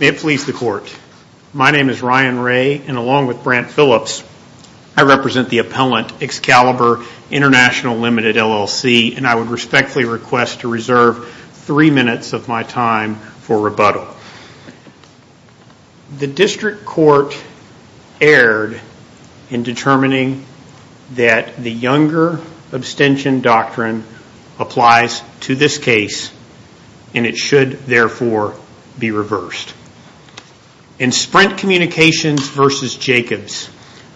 May it please the court. My name is Ryan Ray and along with Brant Phillips I represent the appellant Excalibur International Ltd LLC and I would respectfully request to reserve three minutes of my time for rebuttal. The district court erred in determining that the Younger abstention doctrine applies to this case and it should therefore be reversed. In Sprint Communications v. Jacobs,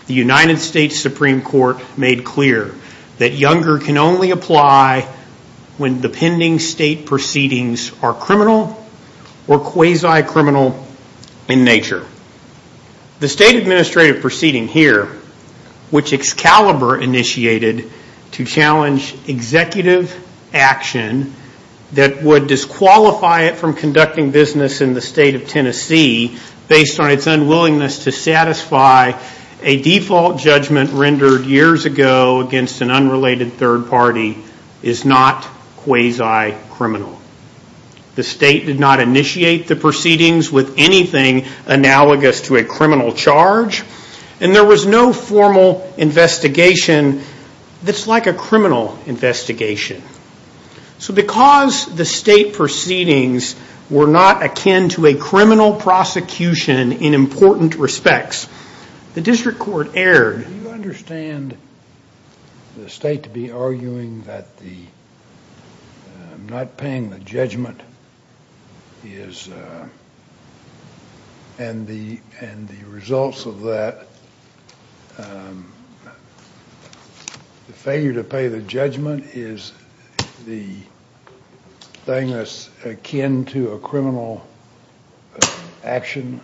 the United States Supreme Court made clear that Younger can only apply when the pending state proceedings are criminal or quasi-criminal in nature. The state administrative proceeding here which Excalibur initiated to challenge executive action that would disqualify it from conducting business in the state of Tennessee based on is not quasi-criminal. The state did not initiate the proceedings with anything analogous to a criminal charge and there was no formal investigation that's like a criminal investigation. So because the state proceedings were not akin to a criminal prosecution in important respects, the district court erred. Do you understand the state to be arguing that the not paying the judgment is and the results of that, the failure to pay the judgment is the thing that's akin to a criminal action?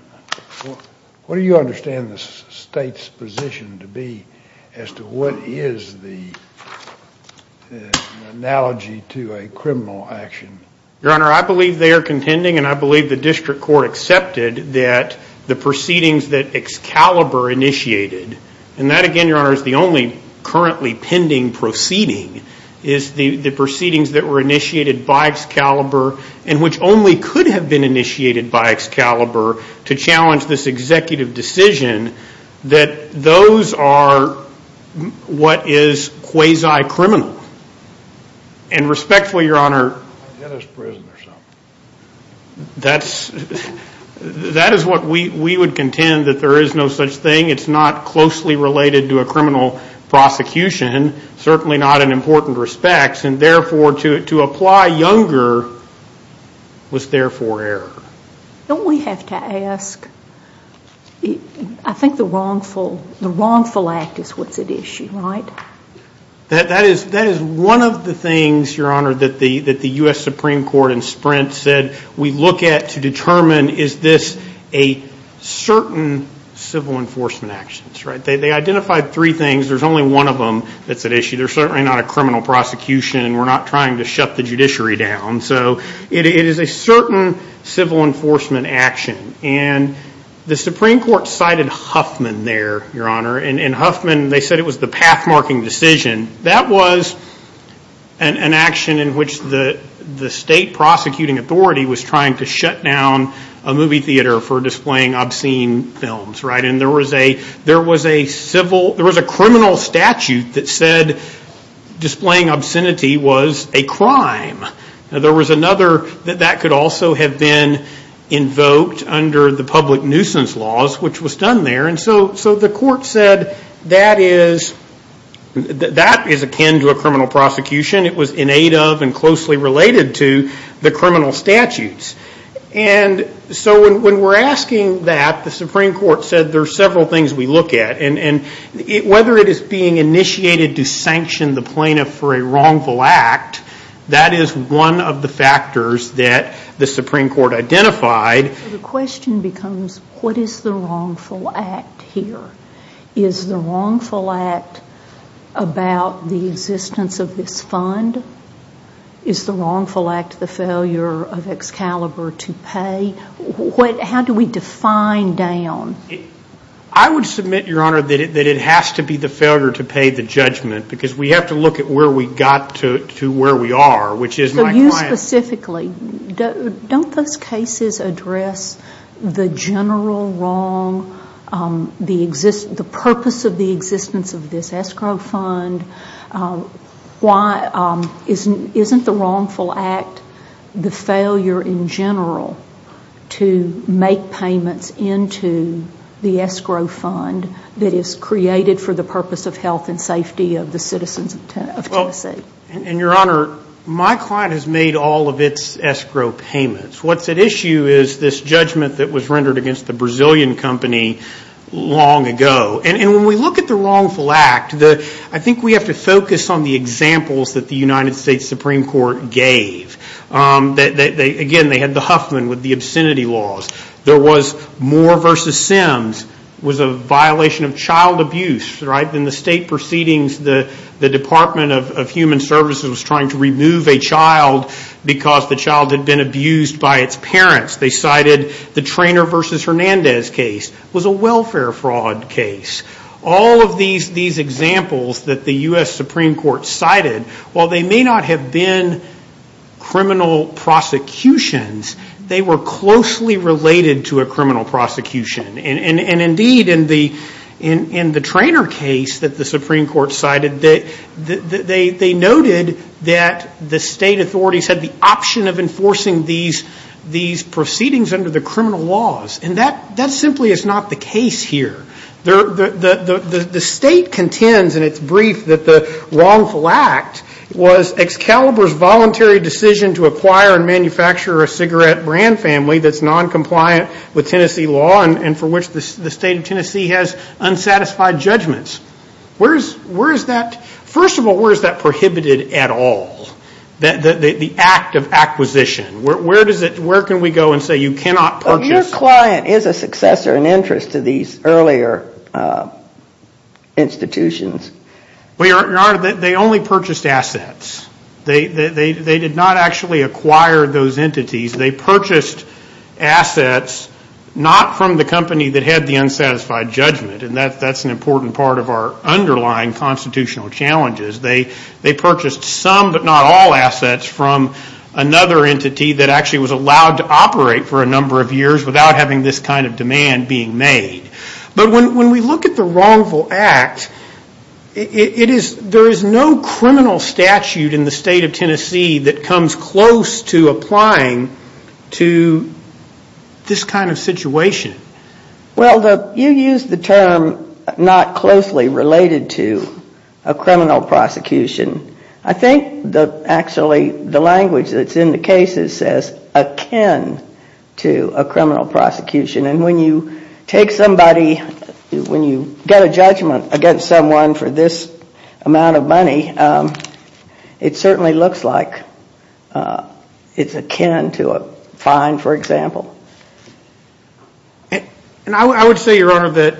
What do you understand the state's position to be as to what is the analogy to a criminal action? Your Honor, I believe they are contending and I believe the district court accepted that the proceedings that Excalibur initiated and that again, Your Honor, is the only currently pending proceeding is the proceedings that were initiated by Excalibur and which only could have been initiated by Excalibur to challenge this executive decision that those are what is quasi-criminal and respectfully, Your Honor, that is what we would contend that there is no such thing, it's not closely related to a criminal prosecution, certainly not in important respects and therefore to apply younger was therefore error. Don't we have to ask, I think the wrongful act is what's at issue, right? That is one of the things, Your Honor, that the U.S. Supreme Court in Sprint said we look at to determine is this a certain civil enforcement actions, right? They identified three things, there's only one of them that's at issue. There's certainly not a criminal prosecution and we're not trying to shut the judiciary down so it is a certain civil enforcement action and the Supreme Court cited Huffman there, Your Honor, and Huffman, they said it was the path marking decision. That was an action in which the state prosecuting authority was trying to shut down a movie theater for displaying obscene films, right? And there was a criminal statute that said displaying obscenity was a crime. There was another that that could also have been invoked under the public nuisance laws which was done there and so the court said that is akin to a criminal prosecution. It was in aid of and closely related to the criminal statutes and so when we're asking that, the Supreme Court said there's several things we look at and whether it is being initiated to sanction the plaintiff for a wrongful act, that is one of the factors that the Supreme Court identified. The question becomes what is the wrongful act here? Is the wrongful act about the existence of this fund? Is the wrongful act the failure of Excalibur to pay? How do we define down? I would submit, Your Honor, that it has to be the failure to pay the judgment because we have to look at where we got to where we are which is my client. So you specifically, don't those cases address the general wrong, the purpose of the existence of this escrow fund? Isn't the wrongful act the failure in general to make payments into the escrow fund that is created for the purpose of health and safety of the citizens of Tennessee? Your Honor, my client has made all of its escrow payments. What's at issue is this judgment that was rendered against the Brazilian company long ago. When we look at the wrongful act, I think we have to focus on the examples that the United States Supreme Court gave. Again, they had the Huffman with the obscenity laws. There was Moore v. Sims was a violation of child abuse. In the state proceedings, the Department of Human Services was trying to remove a child because the child had been abused by its parents. They cited the Traynor v. Hernandez case was a welfare fraud case. All of these examples that the U.S. Supreme Court cited, while they may not have been criminal prosecutions, they were closely related to a criminal prosecution. And indeed, in the Traynor case that the Supreme Court cited, they noted that the state authorities had the option of enforcing these proceedings under the criminal laws. And that simply is not the case here. The state contends in its brief that the wrongful act was Excalibur's voluntary decision to acquire and manufacture a cigarette brand family that's noncompliant with Tennessee law and for which the state of Tennessee has unsatisfied judgments. First of all, where is that prohibited at all? The act of acquisition, where does it, where can we go and say you cannot purchase? Your client is a successor in interest to these earlier institutions. They only purchased assets. They did not actually acquire those entities. They purchased assets not from the company that had the unsatisfied judgment. And that's an important part of our underlying constitutional challenges. They purchased some but not all assets from another entity that actually was allowed to operate for a number of years without having this kind of demand being made. But when we look at the wrongful act, it is, there is no criminal statute in the state of Tennessee that comes close to applying to this kind of situation. Well the, you used the term not closely related to a criminal prosecution. I think the, actually the language that's in the cases says akin to a criminal prosecution and when you take somebody, when you get a judgment against someone for this amount of money, it certainly looks like it's akin to a fine, for example. And I would say, Your Honor, that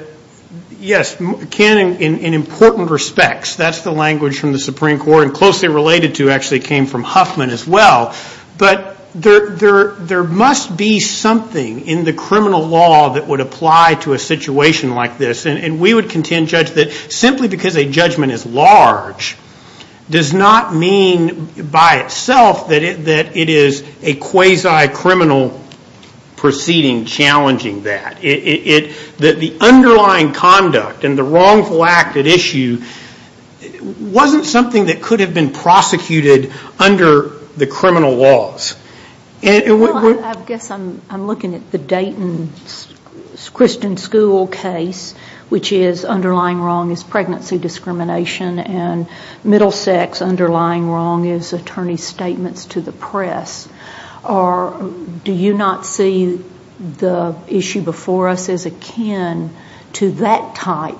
yes, can in important respects, that's the language from the Supreme Court and closely related to actually came from Huffman as well. But there must be something in the criminal law that would apply to a situation like this. And we would contend, Judge, that simply because a judgment is large does not mean by itself that it is a quasi-criminal proceeding challenging that. That the underlying conduct and the wrongful act at issue wasn't something that could have been prosecuted under the criminal laws. Well, I guess I'm looking at the Dayton Christian School case, which is underlying wrong is to the press. Do you not see the issue before us as akin to that type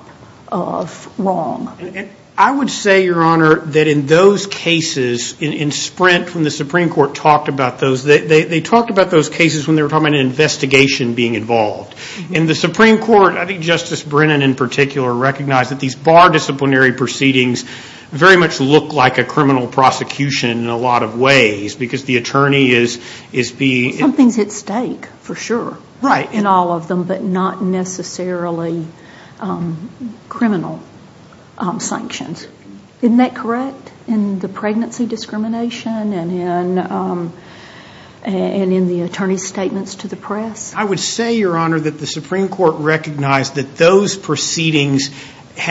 of wrong? I would say, Your Honor, that in those cases, in Sprint when the Supreme Court talked about those, they talked about those cases when they were talking about an investigation being involved. In the Supreme Court, I think Justice Brennan in particular recognized that these bar disciplinary proceedings very much look like a criminal prosecution in a lot of ways because the attorney is being... Something's at stake, for sure, in all of them, but not necessarily criminal sanctions. Isn't that correct in the pregnancy discrimination and in the attorney's statements to the press? I would say, Your Honor, that the Supreme Court recognized that those proceedings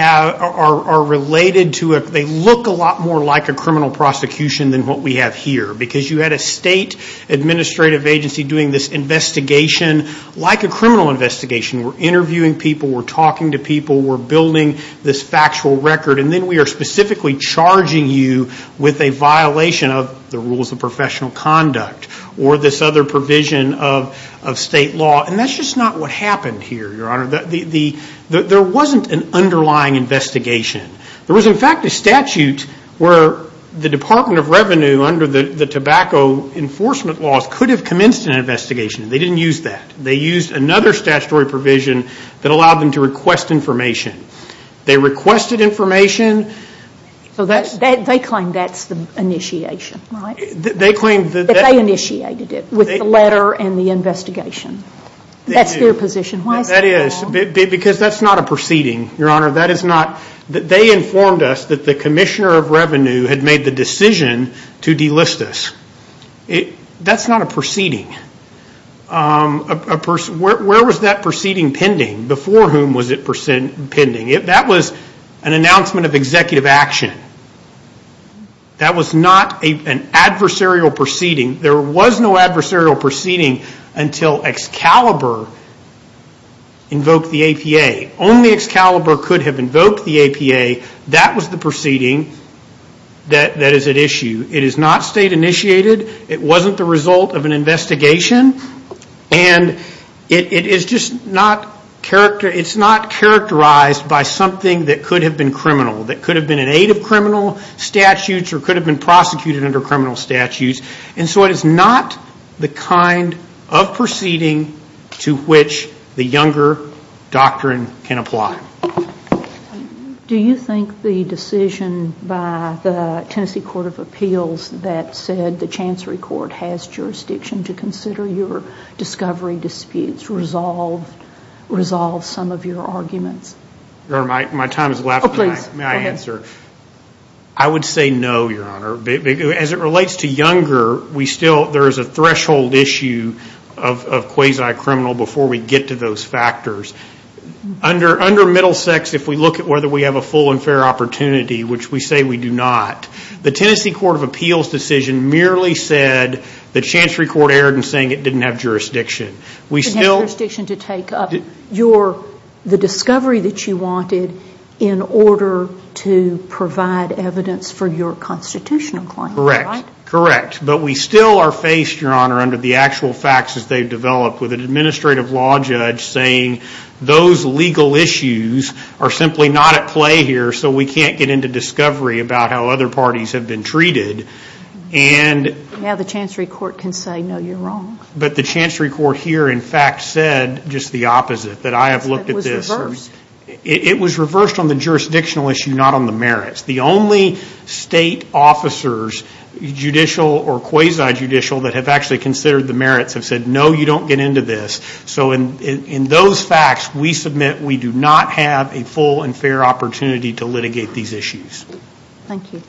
are related to... They look a lot more like a criminal prosecution than what we have here because you had a state administrative agency doing this investigation like a criminal investigation. We're interviewing people, we're talking to people, we're building this factual record, and then we are specifically charging you with a violation of the rules of professional conduct or this other provision of state law. That's just not what happened here, Your Honor. There wasn't an underlying investigation. There was, in fact, a statute where the Department of Revenue under the tobacco enforcement laws could have commenced an investigation. They didn't use that. They used another statutory provision that allowed them to request information. They requested information. They claim that's the initiation, right? They claim that... That they initiated it with the letter and the investigation. That's their position. Why is that at all? That is because that's not a proceeding, Your Honor. That is not... They informed us that the Commissioner of Revenue had made the decision to delist us. That's not a proceeding. Where was that proceeding pending? Before whom was it pending? That was an announcement of executive action. That was not an adversarial proceeding. There was no adversarial proceeding until Excalibur invoked the APA. Only Excalibur could have invoked the APA. That was the proceeding that is at issue. It is not state initiated. It wasn't the result of an investigation. And it is just not characterized by something that could have been criminal, that could have been in aid of criminal statutes or could have been prosecuted under criminal statutes. And so it is not the kind of proceeding to which the Younger Doctrine can apply. Do you think the decision by the Tennessee Court of Appeals that said the Chancery Court has jurisdiction to consider your discovery disputes resolves some of your arguments? My time has elapsed. I would say no, Your Honor. As it relates to Younger, there is a threshold issue of quasi-criminal before we get to those factors. Under Middlesex, if we look at whether we have a full and fair opportunity, which we say we do not, the Tennessee Court of Appeals decision merely said the Chancery Court erred in saying it didn't have jurisdiction. It didn't have jurisdiction to take up the discovery that you wanted in order to provide evidence for your constitutional claim. Correct. But we still are faced, Your Honor, under the actual facts as they've developed with an administrative law judge saying those legal issues are simply not at play here so we can't get into discovery about how other parties have been treated. Now the Chancery Court can say no, you're wrong. But the Chancery Court here, in fact, said just the opposite. That I have looked at this. It was reversed on the jurisdictional issue, not on the merits. The only state officers, judicial or quasi-judicial, that have actually considered the merits have said no, you don't get into this. So in those facts, we submit we do not have a full and fair opportunity to litigate these issues. Thank you.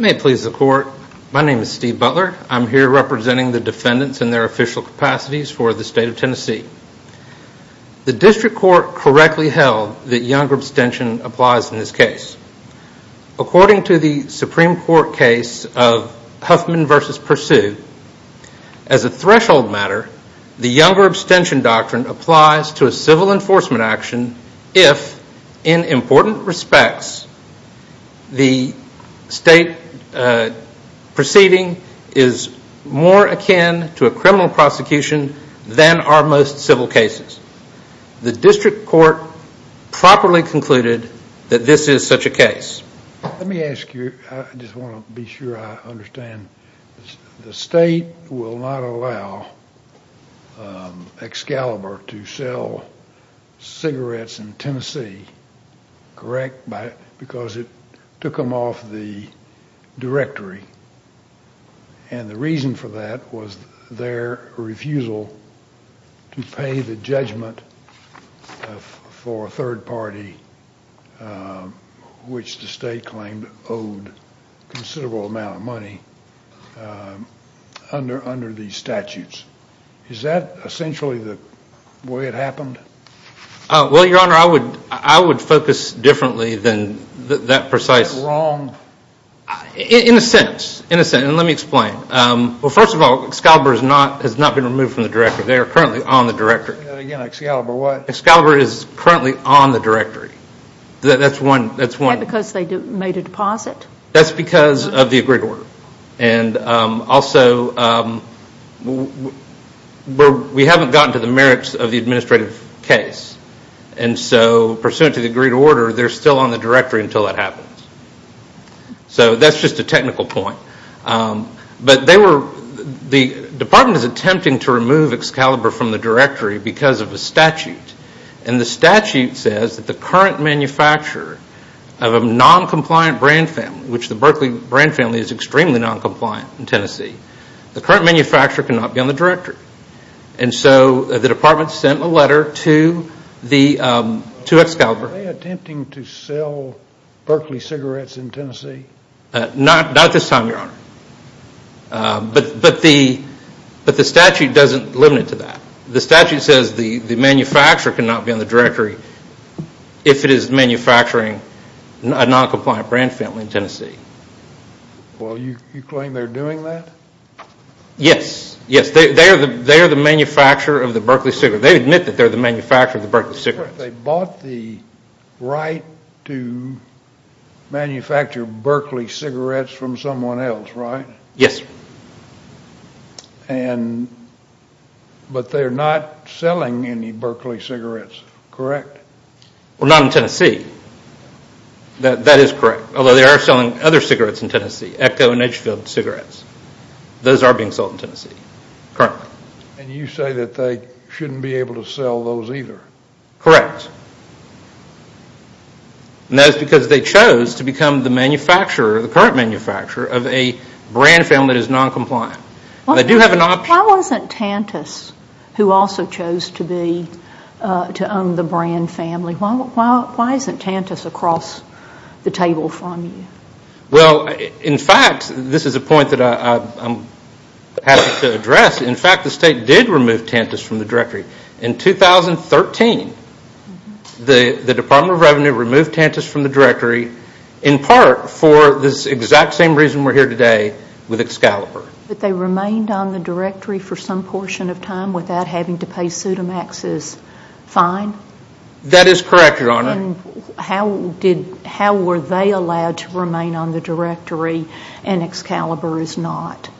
May it please the Court, my name is Steve Butler. I'm here representing the defendants in their official capacities for the state of Tennessee. The District Court correctly held that Younger abstention applies in this case. According to the Supreme Court case of Huffman v. Pursue, as a threshold matter, the Younger abstention doctrine applies to a civil enforcement action if, in important respects, the state proceeding is more akin to a criminal prosecution than are most civil cases. The District Court properly concluded that this is such a case. Let me ask you, I just want to be sure I understand, the state will not allow Excalibur to sell cigarettes in Tennessee, correct, because it took them off the directory and the reason for that was their refusal to pay the judgment for a third party, which the state claimed owed a considerable amount of money, under these statutes. Is that essentially the way it happened? Well, Your Honor, I would focus differently than that precise... Is that wrong? In a sense. In a sense. Let me explain. Well, first of all, Excalibur has not been removed from the directory. They are currently on the directory. Again, Excalibur what? Excalibur is currently on the directory. That's one... Is that because they made a deposit? That's because of the agreed order. Also, we haven't gotten to the merits of the administrative case and so, pursuant to the agreed order, they're still on the directory until that happens. So, that's just a technical point. But they were... The department is attempting to remove Excalibur from the directory because of a statute and the statute says that the current manufacturer of a non-compliant brand family, which the Berkeley brand family is extremely non-compliant in Tennessee, the current manufacturer cannot be on the directory. And so, the department sent a letter to Excalibur... The Berkeley cigarettes in Tennessee? Not this time, Your Honor. But the statute doesn't limit it to that. The statute says the manufacturer cannot be on the directory if it is manufacturing a non-compliant brand family in Tennessee. Well, you claim they're doing that? Yes. Yes. They are the manufacturer of the Berkeley cigarettes. They admit that they're the manufacturer of the Berkeley cigarettes. They bought the right to manufacture Berkeley cigarettes from someone else, right? Yes. But they're not selling any Berkeley cigarettes, correct? Well, not in Tennessee. That is correct. Although, they are selling other cigarettes in Tennessee, Echo and Edgefield cigarettes. Those are being sold in Tennessee, currently. And you say that they shouldn't be able to sell those either? Correct. That is because they chose to become the manufacturer, the current manufacturer of a brand family that is non-compliant. They do have an option... Why wasn't Tantus, who also chose to own the brand family, why isn't Tantus across the table from you? Well, in fact, this is a point that I'm happy to address. In fact, the state did remove Tantus from the directory. In 2013, the Department of Revenue removed Tantus from the directory, in part for this exact same reason we're here today, with Excalibur. But they remained on the directory for some portion of time without having to pay Pseudomax's fine? That is correct, Your Honor. How were they allowed to remain on the directory and Excalibur is not?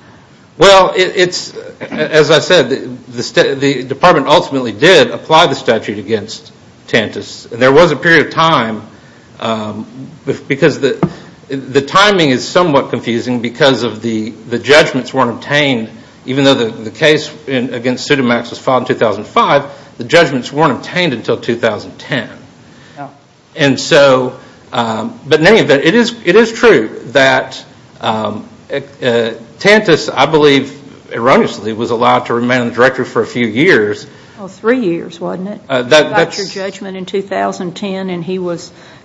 Well, as I said, the department ultimately did apply the statute against Tantus. There was a period of time, because the timing is somewhat confusing because of the judgments weren't obtained, even though the case against Pseudomax was filed in 2005, the judgments weren't obtained until 2010. But in any event, it is true that Tantus, I believe erroneously, was allowed to remain on the directory for a few years. Three years, wasn't it? You got your judgment in 2010 and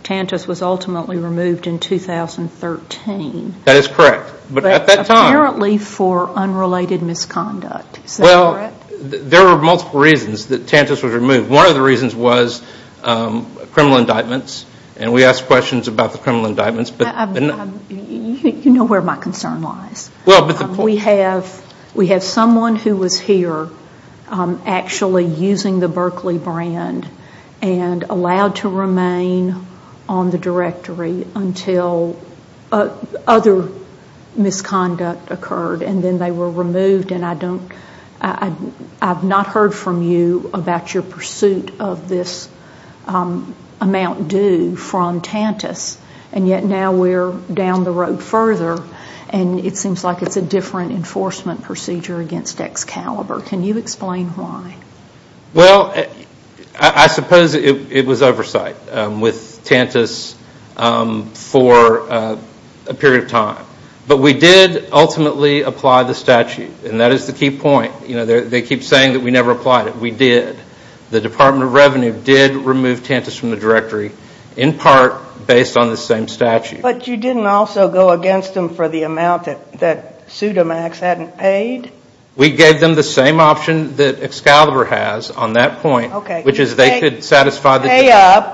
Tantus was ultimately removed in 2013. That is correct. But at that time... Apparently for unrelated misconduct, is that correct? There were multiple reasons that Tantus was removed. One of the reasons was criminal indictments and we ask questions about the criminal indictments. You know where my concern lies. We have someone who was here actually using the Berkeley brand and allowed to remain on the directory until other misconduct occurred and then they were removed and I have not heard from you about your pursuit of this amount due from Tantus and yet now we are down the road further and it seems like it is a different enforcement procedure against Excalibur. Can you explain why? Well, I suppose it was oversight with Tantus for a period of time. But we did ultimately apply the statute and that is the key point. They keep saying that we never applied it. We did. The Department of Revenue did remove Tantus from the directory in part based on the same statute. But you didn't also go against them for the amount that Pseudomax hadn't paid? We gave them the same option that Excalibur has on that point, which is they could satisfy the...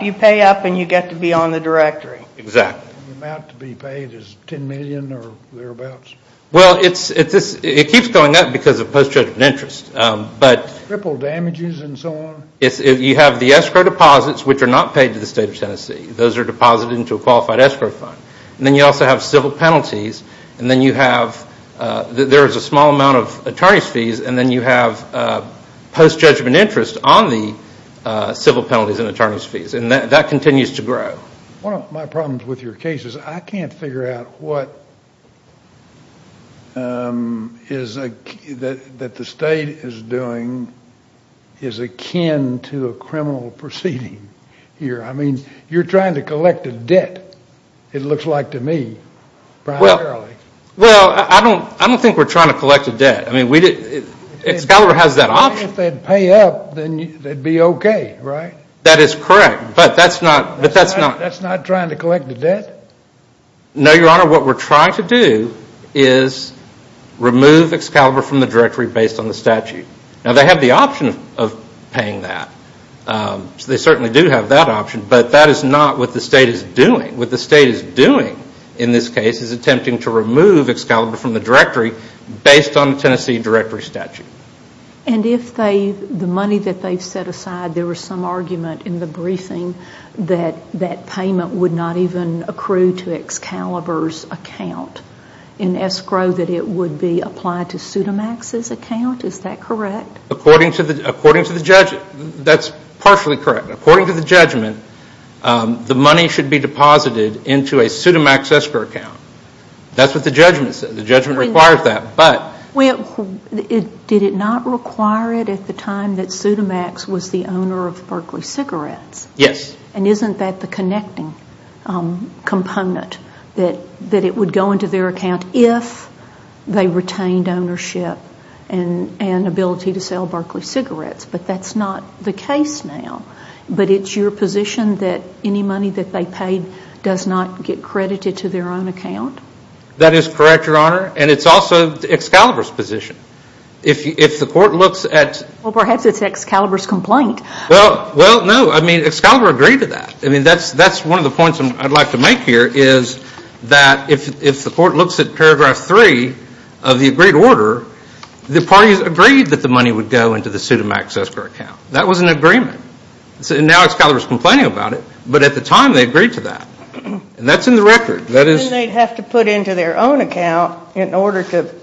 You pay up and you get to be on the directory. Exactly. The amount to be paid is $10 million or thereabouts? Well, it keeps going up because of post-judgment interest. But... Ripple damages and so on? You have the escrow deposits, which are not paid to the State of Tennessee. Those are deposited into a qualified escrow fund and then you also have civil penalties and then you have... There is a small amount of attorney's fees and then you have post-judgment interest on the civil penalties and attorney's fees and that continues to grow. One of my problems with your case is I can't figure out what is... that the State is doing is akin to a criminal proceeding here. I mean, you're trying to collect a debt, it looks like to me, primarily. Well, I don't think we're trying to collect a debt. I mean, Excalibur has that option. If they'd pay up, then they'd be okay, right? That is correct. But that's not... But that's not... That's not trying to collect a debt? No, Your Honor, what we're trying to do is remove Excalibur from the directory based on the statute. Now, they have the option of paying that. They certainly do have that option, but that is not what the State is doing. What the State is doing in this case is attempting to remove Excalibur from the directory based on the Tennessee directory statute. And if they... The money that they've set aside, there was some argument in the briefing that that payment would not even accrue to Excalibur's account in escrow, that it would be applied to Pseudomax's account. Is that correct? According to the... According to the... That's partially correct. According to the judgment, the money should be deposited into a Pseudomax escrow account. That's what the judgment says. The judgment requires that, but... Well, did it not require it at the time that Pseudomax was the owner of Berkeley Cigarettes? Yes. And isn't that the connecting component, that it would go into their account if they retained ownership and ability to sell Berkeley Cigarettes, but that's not the case now. But it's your position that any money that they paid does not get credited to their own account? That is correct, Your Honor. And it's also Excalibur's position. If the court looks at... Well, perhaps it's Excalibur's complaint. Well, no. I mean, Excalibur agreed to that. That's one of the points I'd like to make here, is that if the court looks at paragraph three of the agreed order, the parties agreed that the money would go into the Pseudomax escrow account. That was an agreement. And now Excalibur's complaining about it, but at the time, they agreed to that. That's in the record. Then they'd have to put into their own account in order to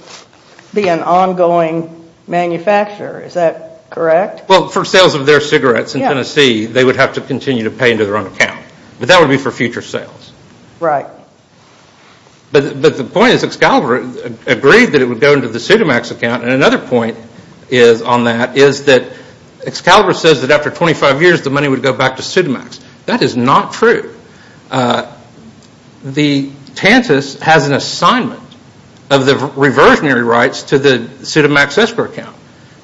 be an ongoing manufacturer. Is that correct? Well, for sales of their cigarettes in Tennessee, they would have to continue to pay into their own account. But that would be for future sales. Right. But the point is Excalibur agreed that it would go into the Pseudomax account, and another point on that is that Excalibur says that after 25 years, the money would go back to Pseudomax. That is not true. The TANTAS has an assignment of the reversionary rights to the Pseudomax escrow account.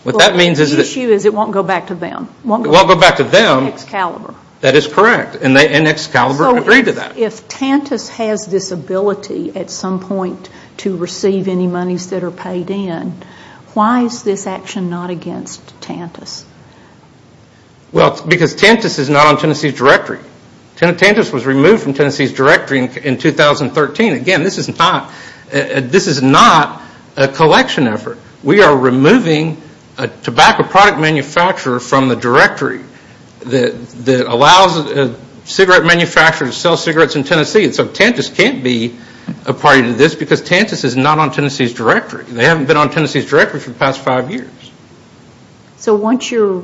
The issue is it won't go back to them. It won't go back to them. It's Excalibur. That is correct. And Excalibur agreed to that. So if TANTAS has this ability at some point to receive any monies that are paid in, why is this action not against TANTAS? Well, because TANTAS is not on Tennessee's directory. TANTAS was removed from Tennessee's directory in 2013. Again, this is not a collection effort. We are removing a tobacco product manufacturer from the directory that allows a cigarette manufacturer to sell cigarettes in Tennessee. So TANTAS can't be a party to this because TANTAS is not on Tennessee's directory. They haven't been on Tennessee's directory for the past five years. So once you're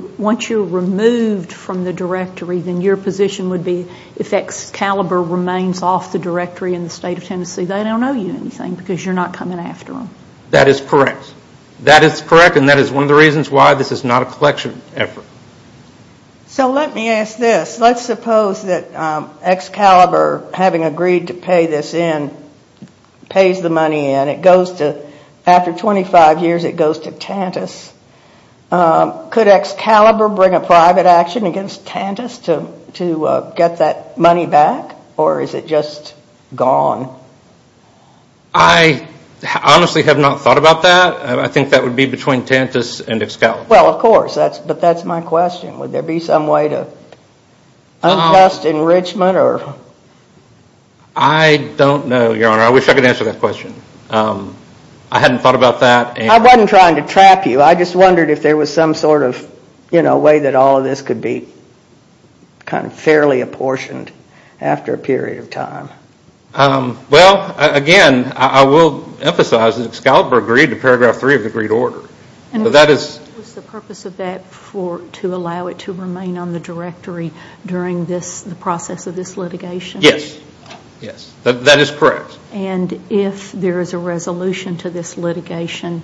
removed from the directory, then your position would be if Excalibur remains off the directory in the state of Tennessee, they don't owe you anything because you're not coming after them. That is correct. That is correct and that is one of the reasons why this is not a collection effort. So let me ask this. Let's suppose that Excalibur, having agreed to pay this in, pays the money in. After 25 years, it goes to TANTAS. Could Excalibur bring a private action against TANTAS to get that money back? Or is it just gone? I honestly have not thought about that. I think that would be between TANTAS and Excalibur. Well, of course. But that's my question. Would there be some way to untest enrichment? I don't know, Your Honor. I wish I could answer that question. I hadn't thought about that. I wasn't trying to trap you. I just wondered if there was some sort of way that all of this could be fairly apportioned after a period of time. Well, again, I will emphasize that Excalibur agreed to paragraph 3 of the Greed Order. Was the purpose of that to allow it to remain on the directory during the process of this litigation? Yes. That is correct. And if there is a resolution to this litigation,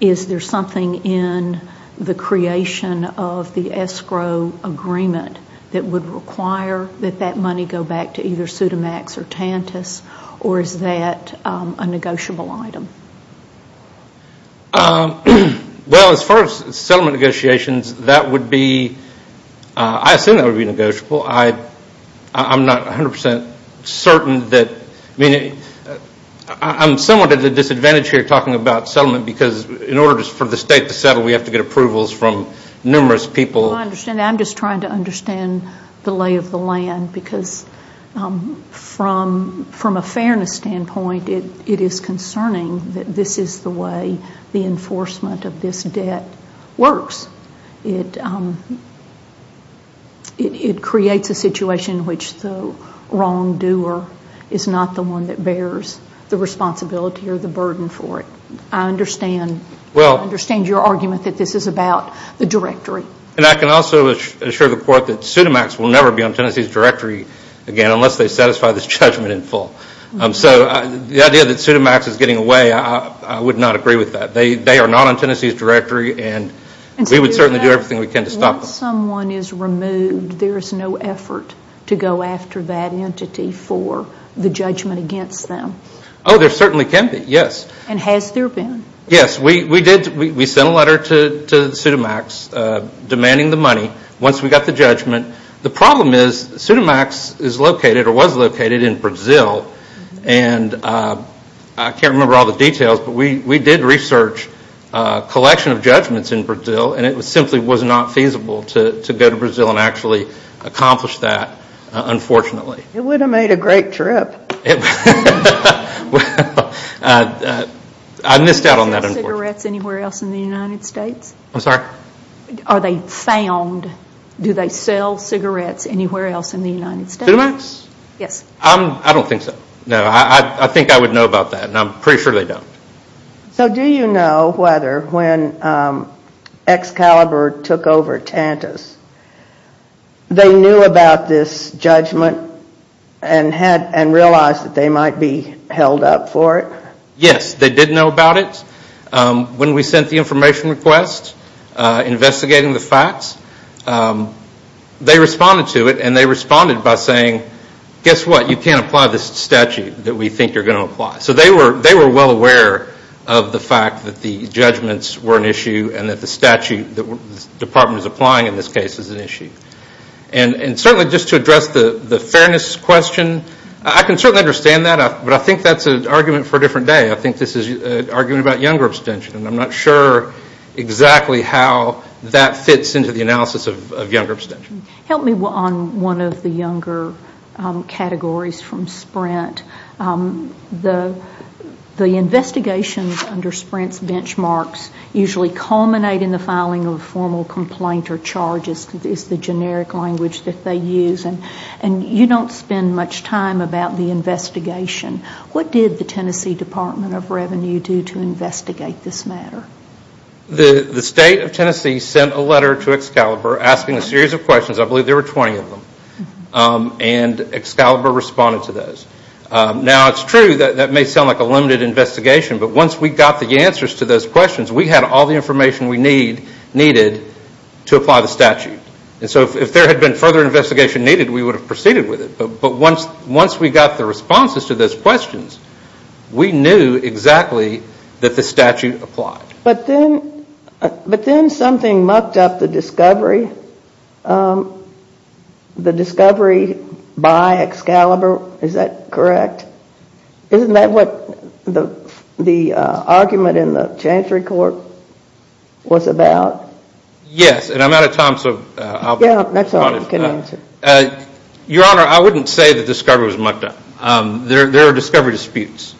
is there something in the creation of the escrow agreement that would require that that money go back to either SUDAMAX or TANTAS? Or is that a negotiable item? Well, as far as settlement negotiations, that would be – I assume that would be negotiable. I'm not 100 percent certain that – I mean, I'm somewhat at a disadvantage here talking about settlement because in order for the state to settle, we have to get approvals from numerous people. I understand that. I'm just trying to understand the lay of the land because from a fairness standpoint, it is concerning that this is the way the enforcement of this debt works. It creates a situation in which the wrongdoer is not the one that bears the responsibility or the burden for it. I understand your argument that this is about the directory. And I can also assure the Court that SUDAMAX will never be on Tennessee's directory again unless they satisfy this judgment in full. So the idea that SUDAMAX is getting away, I would not agree with that. They are not on Tennessee's directory and we would certainly do everything we can to stop them. Once someone is removed, there is no effort to go after that entity for the judgment against them? Oh, there certainly can be, yes. And has there been? Yes, we did – we sent a letter to SUDAMAX demanding the money once we got the judgment. The problem is SUDAMAX is located or was located in Brazil and I can't remember all the details but we did research a collection of judgments in Brazil and it simply was not feasible to go to Brazil and actually accomplish that, unfortunately. It would have made a great trip. Well, I missed out on that unfortunately. Do they sell cigarettes anywhere else in the United States? I'm sorry? Are they found – do they sell cigarettes anywhere else in the United States? SUDAMAX? Yes. I don't think so. No, I think I would know about that and I'm pretty sure they don't. So do you know whether when Excalibur took over Tantus, they knew about this judgment and realized that they might be held up for it? Yes, they did know about it. When we sent the information request investigating the facts, they responded to it and they responded by saying, guess what, you can't apply this statute that we think you're going to apply. So they were well aware of the fact that the judgments were an issue and that the statute the department is applying in this case is an issue. And certainly just to address the fairness question, I can certainly understand that but I think that's an argument for a different day. I think this is an argument about younger abstention and I'm not sure exactly how that fits into the analysis of younger abstention. Help me on one of the younger categories from Sprint. The investigations under Sprint's benchmarks usually culminate in the filing of a formal complaint or charges is the generic language that they use. And you don't spend much time about the investigation. What did the Tennessee Department of Revenue do to investigate this matter? The state of Tennessee sent a letter to Excalibur asking a series of questions, I believe there were 20 of them. And Excalibur responded to those. Now it's true that that may sound like a limited investigation but once we got the answers to those questions, we had all the information we needed to apply the statute. And so if there had been further investigation needed, we would have proceeded with it. But once we got the responses to those questions, we knew exactly that the statute applied. But then something mucked up the discovery. The discovery by Excalibur, is that correct? Isn't that what the argument in the Chancery Court was about? Yes, and I'm out of time so I'll respond. Yeah, that's all you can answer. Your Honor, I wouldn't say the discovery was mucked up. There are discovery disputes.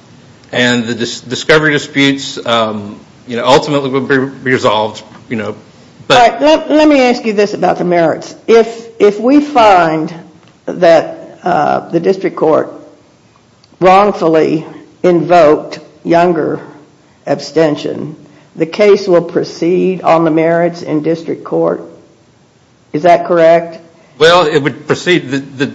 And the discovery disputes ultimately will be resolved. Let me ask you this about the merits. If we find that the district court wrongfully invoked younger abstention, the case will proceed on the merits in district court? Is that correct? Well, it would proceed that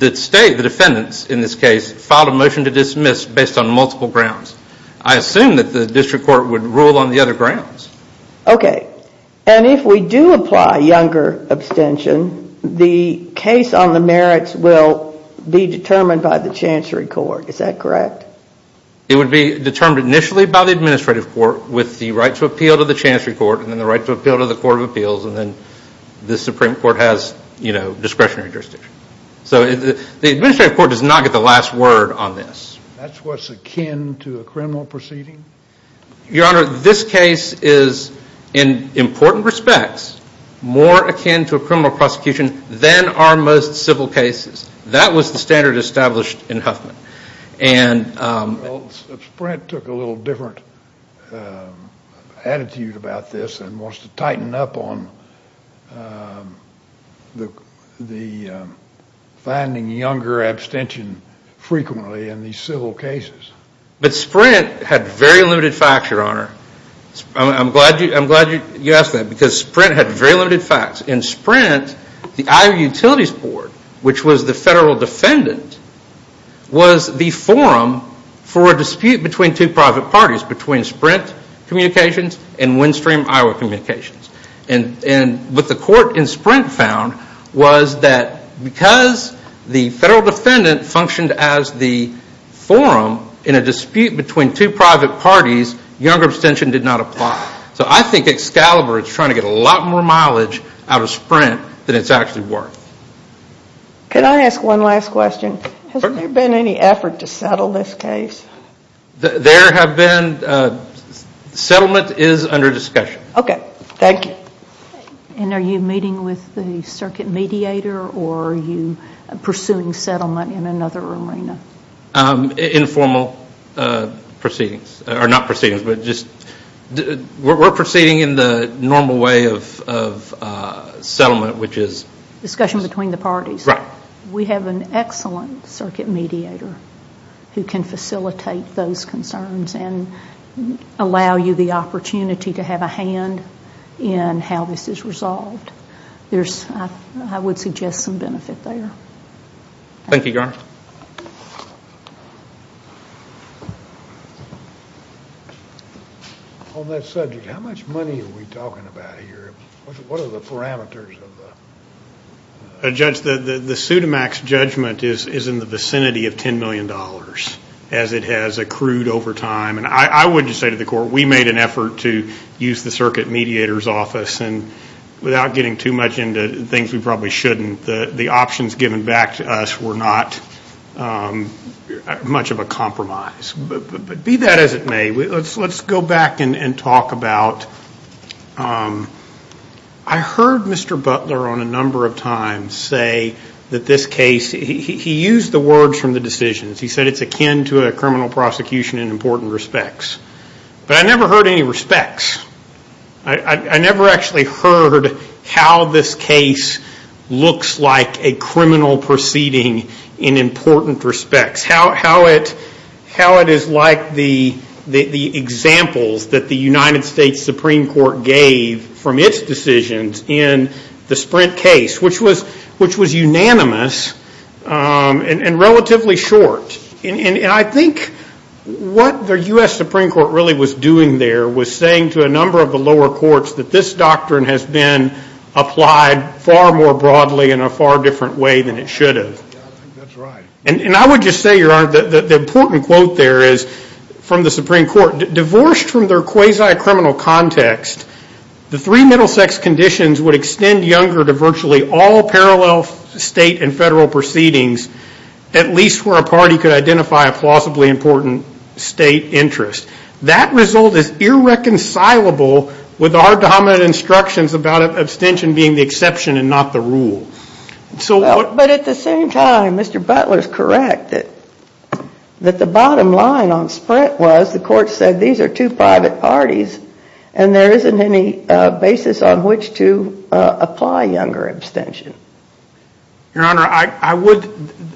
the state, the defendants in this case, filed a motion to dismiss based on multiple grounds. I assume that the district court would rule on the other grounds. Okay. And if we do apply younger abstention, the case on the merits will be determined by the Chancery Court. Is that correct? It would be determined initially by the administrative court with the right to appeal to the Chancery Court and then the right to appeal to the Court of Appeals and then the Supreme Court has discretionary jurisdiction. So the administrative court does not get the last word on this. That's what's akin to a criminal proceeding? Your Honor, this case is, in important respects, more akin to a criminal prosecution than our most civil cases. That was the standard established in Huffman. Sprint took a little different attitude about this and wants to tighten up on the finding younger abstention frequently in these civil cases. But Sprint had very limited facts, Your Honor. I'm glad you asked that because Sprint had very limited facts. In Sprint, the Iowa Utilities Board, which was the federal defendant, was the forum for a dispute between two private parties, between Sprint Communications and Windstream Iowa Communications. And what the court in Sprint found was that because the federal defendant functioned as the forum in a dispute between two private parties, younger abstention did not apply. So I think Excalibur is trying to get a lot more mileage out of Sprint than it's actually worth. Can I ask one last question? Has there been any effort to settle this case? There have been. Settlement is under discussion. Okay. Thank you. And are you meeting with the circuit mediator or are you pursuing settlement in another arena? Informal proceedings. Or not proceedings, but just we're proceeding in the normal way of settlement, which is... Discussion between the parties. Right. We have an excellent circuit mediator who can facilitate those concerns and allow you the opportunity to have a hand in how this is resolved. I would suggest some benefit there. Thank you, Your Honor. On that subject, how much money are we talking about here? What are the parameters of the... The Pseudomax judgment is in the vicinity of $10 million as it has accrued over time. And I would just say to the Court, we made an effort to use the circuit mediator's office and without getting too much into things we probably shouldn't, the options given back to us were not much of a compromise. But be that as it may, let's go back and talk about... I heard Mr. Butler on a number of times say that this case... He used the words from the decisions. He said it's akin to a criminal prosecution in important respects. But I never heard any respects. I never actually heard how this case looks like a criminal proceeding in important respects. How it is like the examples that the United States Supreme Court gave from its decisions in the Sprint case, which was unanimous and relatively short. And I think what the U.S. Supreme Court really was doing there was saying to a number of the lower courts that this doctrine has been applied far more broadly in a far different way than it should have. And I would just say, the important quote there is from the Supreme Court, divorced from their quasi-criminal context, the three middle sex conditions would extend younger to virtually all parallel state and federal proceedings, at least where a party could identify a plausibly important state interest. That result is irreconcilable with our dominant instructions about abstention being the exception and not the rule. But at the same time, Mr. Butler is correct that the bottom line on Sprint was the court said these are two private parties and there isn't any basis on which to apply younger abstention. Your Honor,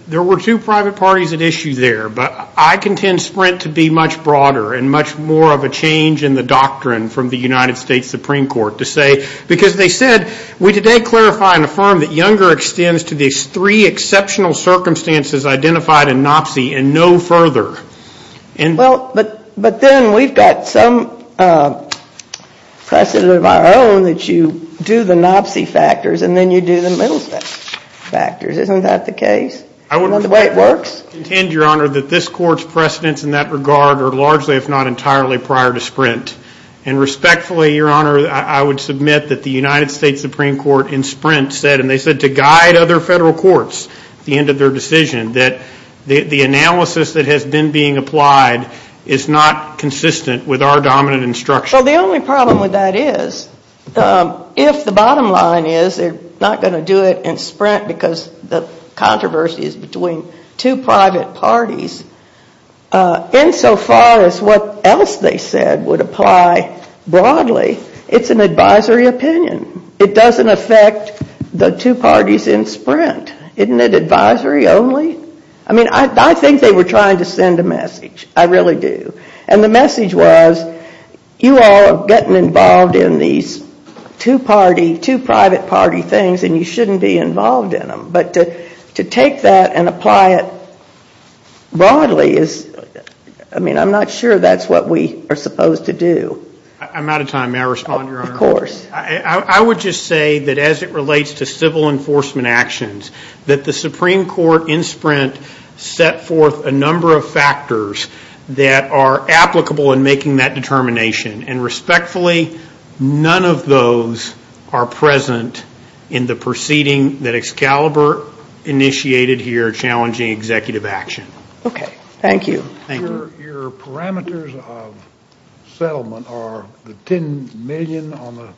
there were two private parties at issue there, but I contend Sprint to be much broader and much more of a change in the doctrine from the United States Supreme Court. To say, because they said, we today clarify and affirm that younger extends to these three exceptional circumstances identified in NOPSI and no further. Well, but then we've got some precedent of our own that you do the NOPSI factors and then you do the middle sex factors. Isn't that the case and the way it works? I would contend, Your Honor, that this court's precedents in that regard are largely, if not entirely, prior to Sprint. And respectfully, Your Honor, I would submit that the United States Supreme Court in Sprint said, and they said to guide other federal courts at the end of their decision, that the analysis that has been being applied is not consistent with our dominant instructions. Well, the only problem with that is if the bottom line is they're not going to do it in Sprint because the controversy is between two private parties, insofar as what else they said would apply broadly, it's an advisory opinion. It doesn't affect the two parties in Sprint. Isn't it advisory only? I mean, I think they were trying to send a message. I really do. And the message was, you all are getting involved in these two-party, two-private-party things and you shouldn't be involved in them. But to take that and apply it broadly is, I mean, I'm not sure that's what we are supposed to do. I'm out of time. May I respond, Your Honor? Of course. I would just say that as it relates to civil enforcement actions, that the Supreme Court in Sprint set forth a number of factors that are applicable in making that determination. And respectfully, none of those are present in the proceeding that Excalibur initiated here challenging executive action. Okay. Thank you. Thank you. Your parameters of settlement are the $10 million on the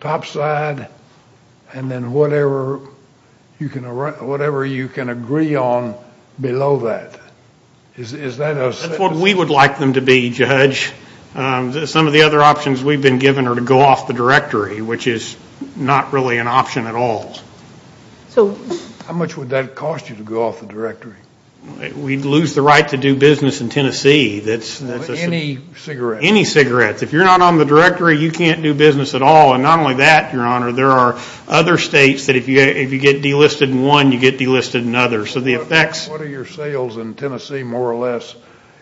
top side and then whatever you can agree on below that. Is that a settlement? That's what we would like them to be, Judge. Some of the other options we've been given are to go off the directory, which is not really an option at all. So how much would that cost you to go off the directory? We'd lose the right to do business in Tennessee. Any cigarettes? Any cigarettes. If you're not on the directory, you can't do business at all. And not only that, Your Honor, there are other states that if you get delisted in one, you get delisted in others. What are your sales in Tennessee, more or less,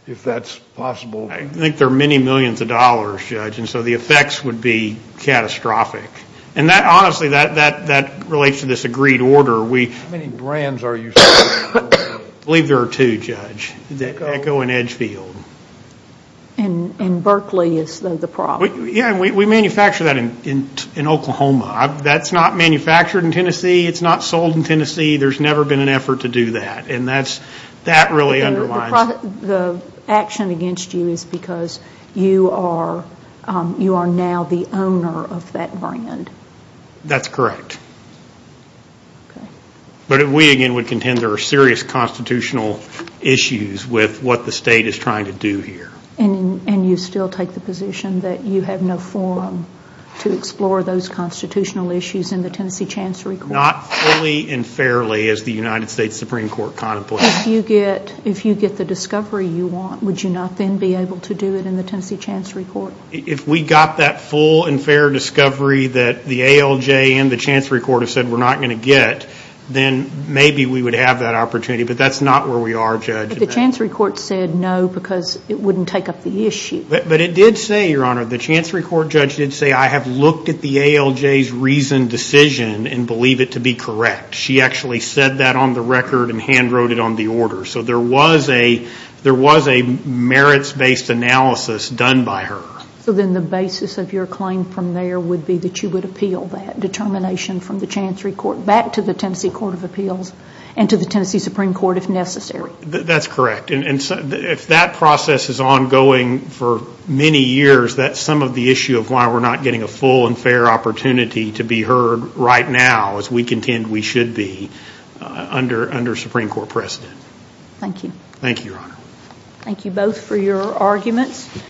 if that's possible? I think there are many millions of dollars, Judge, and so the effects would be catastrophic. And honestly, that relates to this agreed order. How many brands are you selling? I believe there are two, Judge, Echo and Edgefield. And Berkeley is the problem. Yeah, and we manufacture that in Oklahoma. That's not manufactured in Tennessee. It's not sold in Tennessee. There's never been an effort to do that, and that really underlines it. The action against you is because you are now the owner of that brand. That's correct. But we, again, would contend there are serious constitutional issues with what the state is trying to do here. And you still take the position that you have no forum to explore those constitutional issues in the Tennessee Chancery Court? Not fully and fairly, as the United States Supreme Court contemplates. If you get the discovery you want, would you not then be able to do it in the Tennessee Chancery Court? If we got that full and fair discovery that the ALJ and the Chancery Court have said we're not going to get, then maybe we would have that opportunity, but that's not where we are, Judge. But the Chancery Court said no because it wouldn't take up the issue. But it did say, Your Honor, the Chancery Court judge did say, I have looked at the ALJ's reasoned decision and believe it to be correct. She actually said that on the record and hand-wrote it on the order. So there was a merits-based analysis done by her. So then the basis of your claim from there would be that you would appeal that determination from the Chancery Court back to the Tennessee Court of Appeals and to the Tennessee Supreme Court if necessary? That's correct. And if that process is ongoing for many years, that's some of the issue of why we're not getting a full and fair opportunity to be heard right now, as we contend we should be under Supreme Court precedent. Thank you. Thank you, Your Honor. Thank you both for your arguments.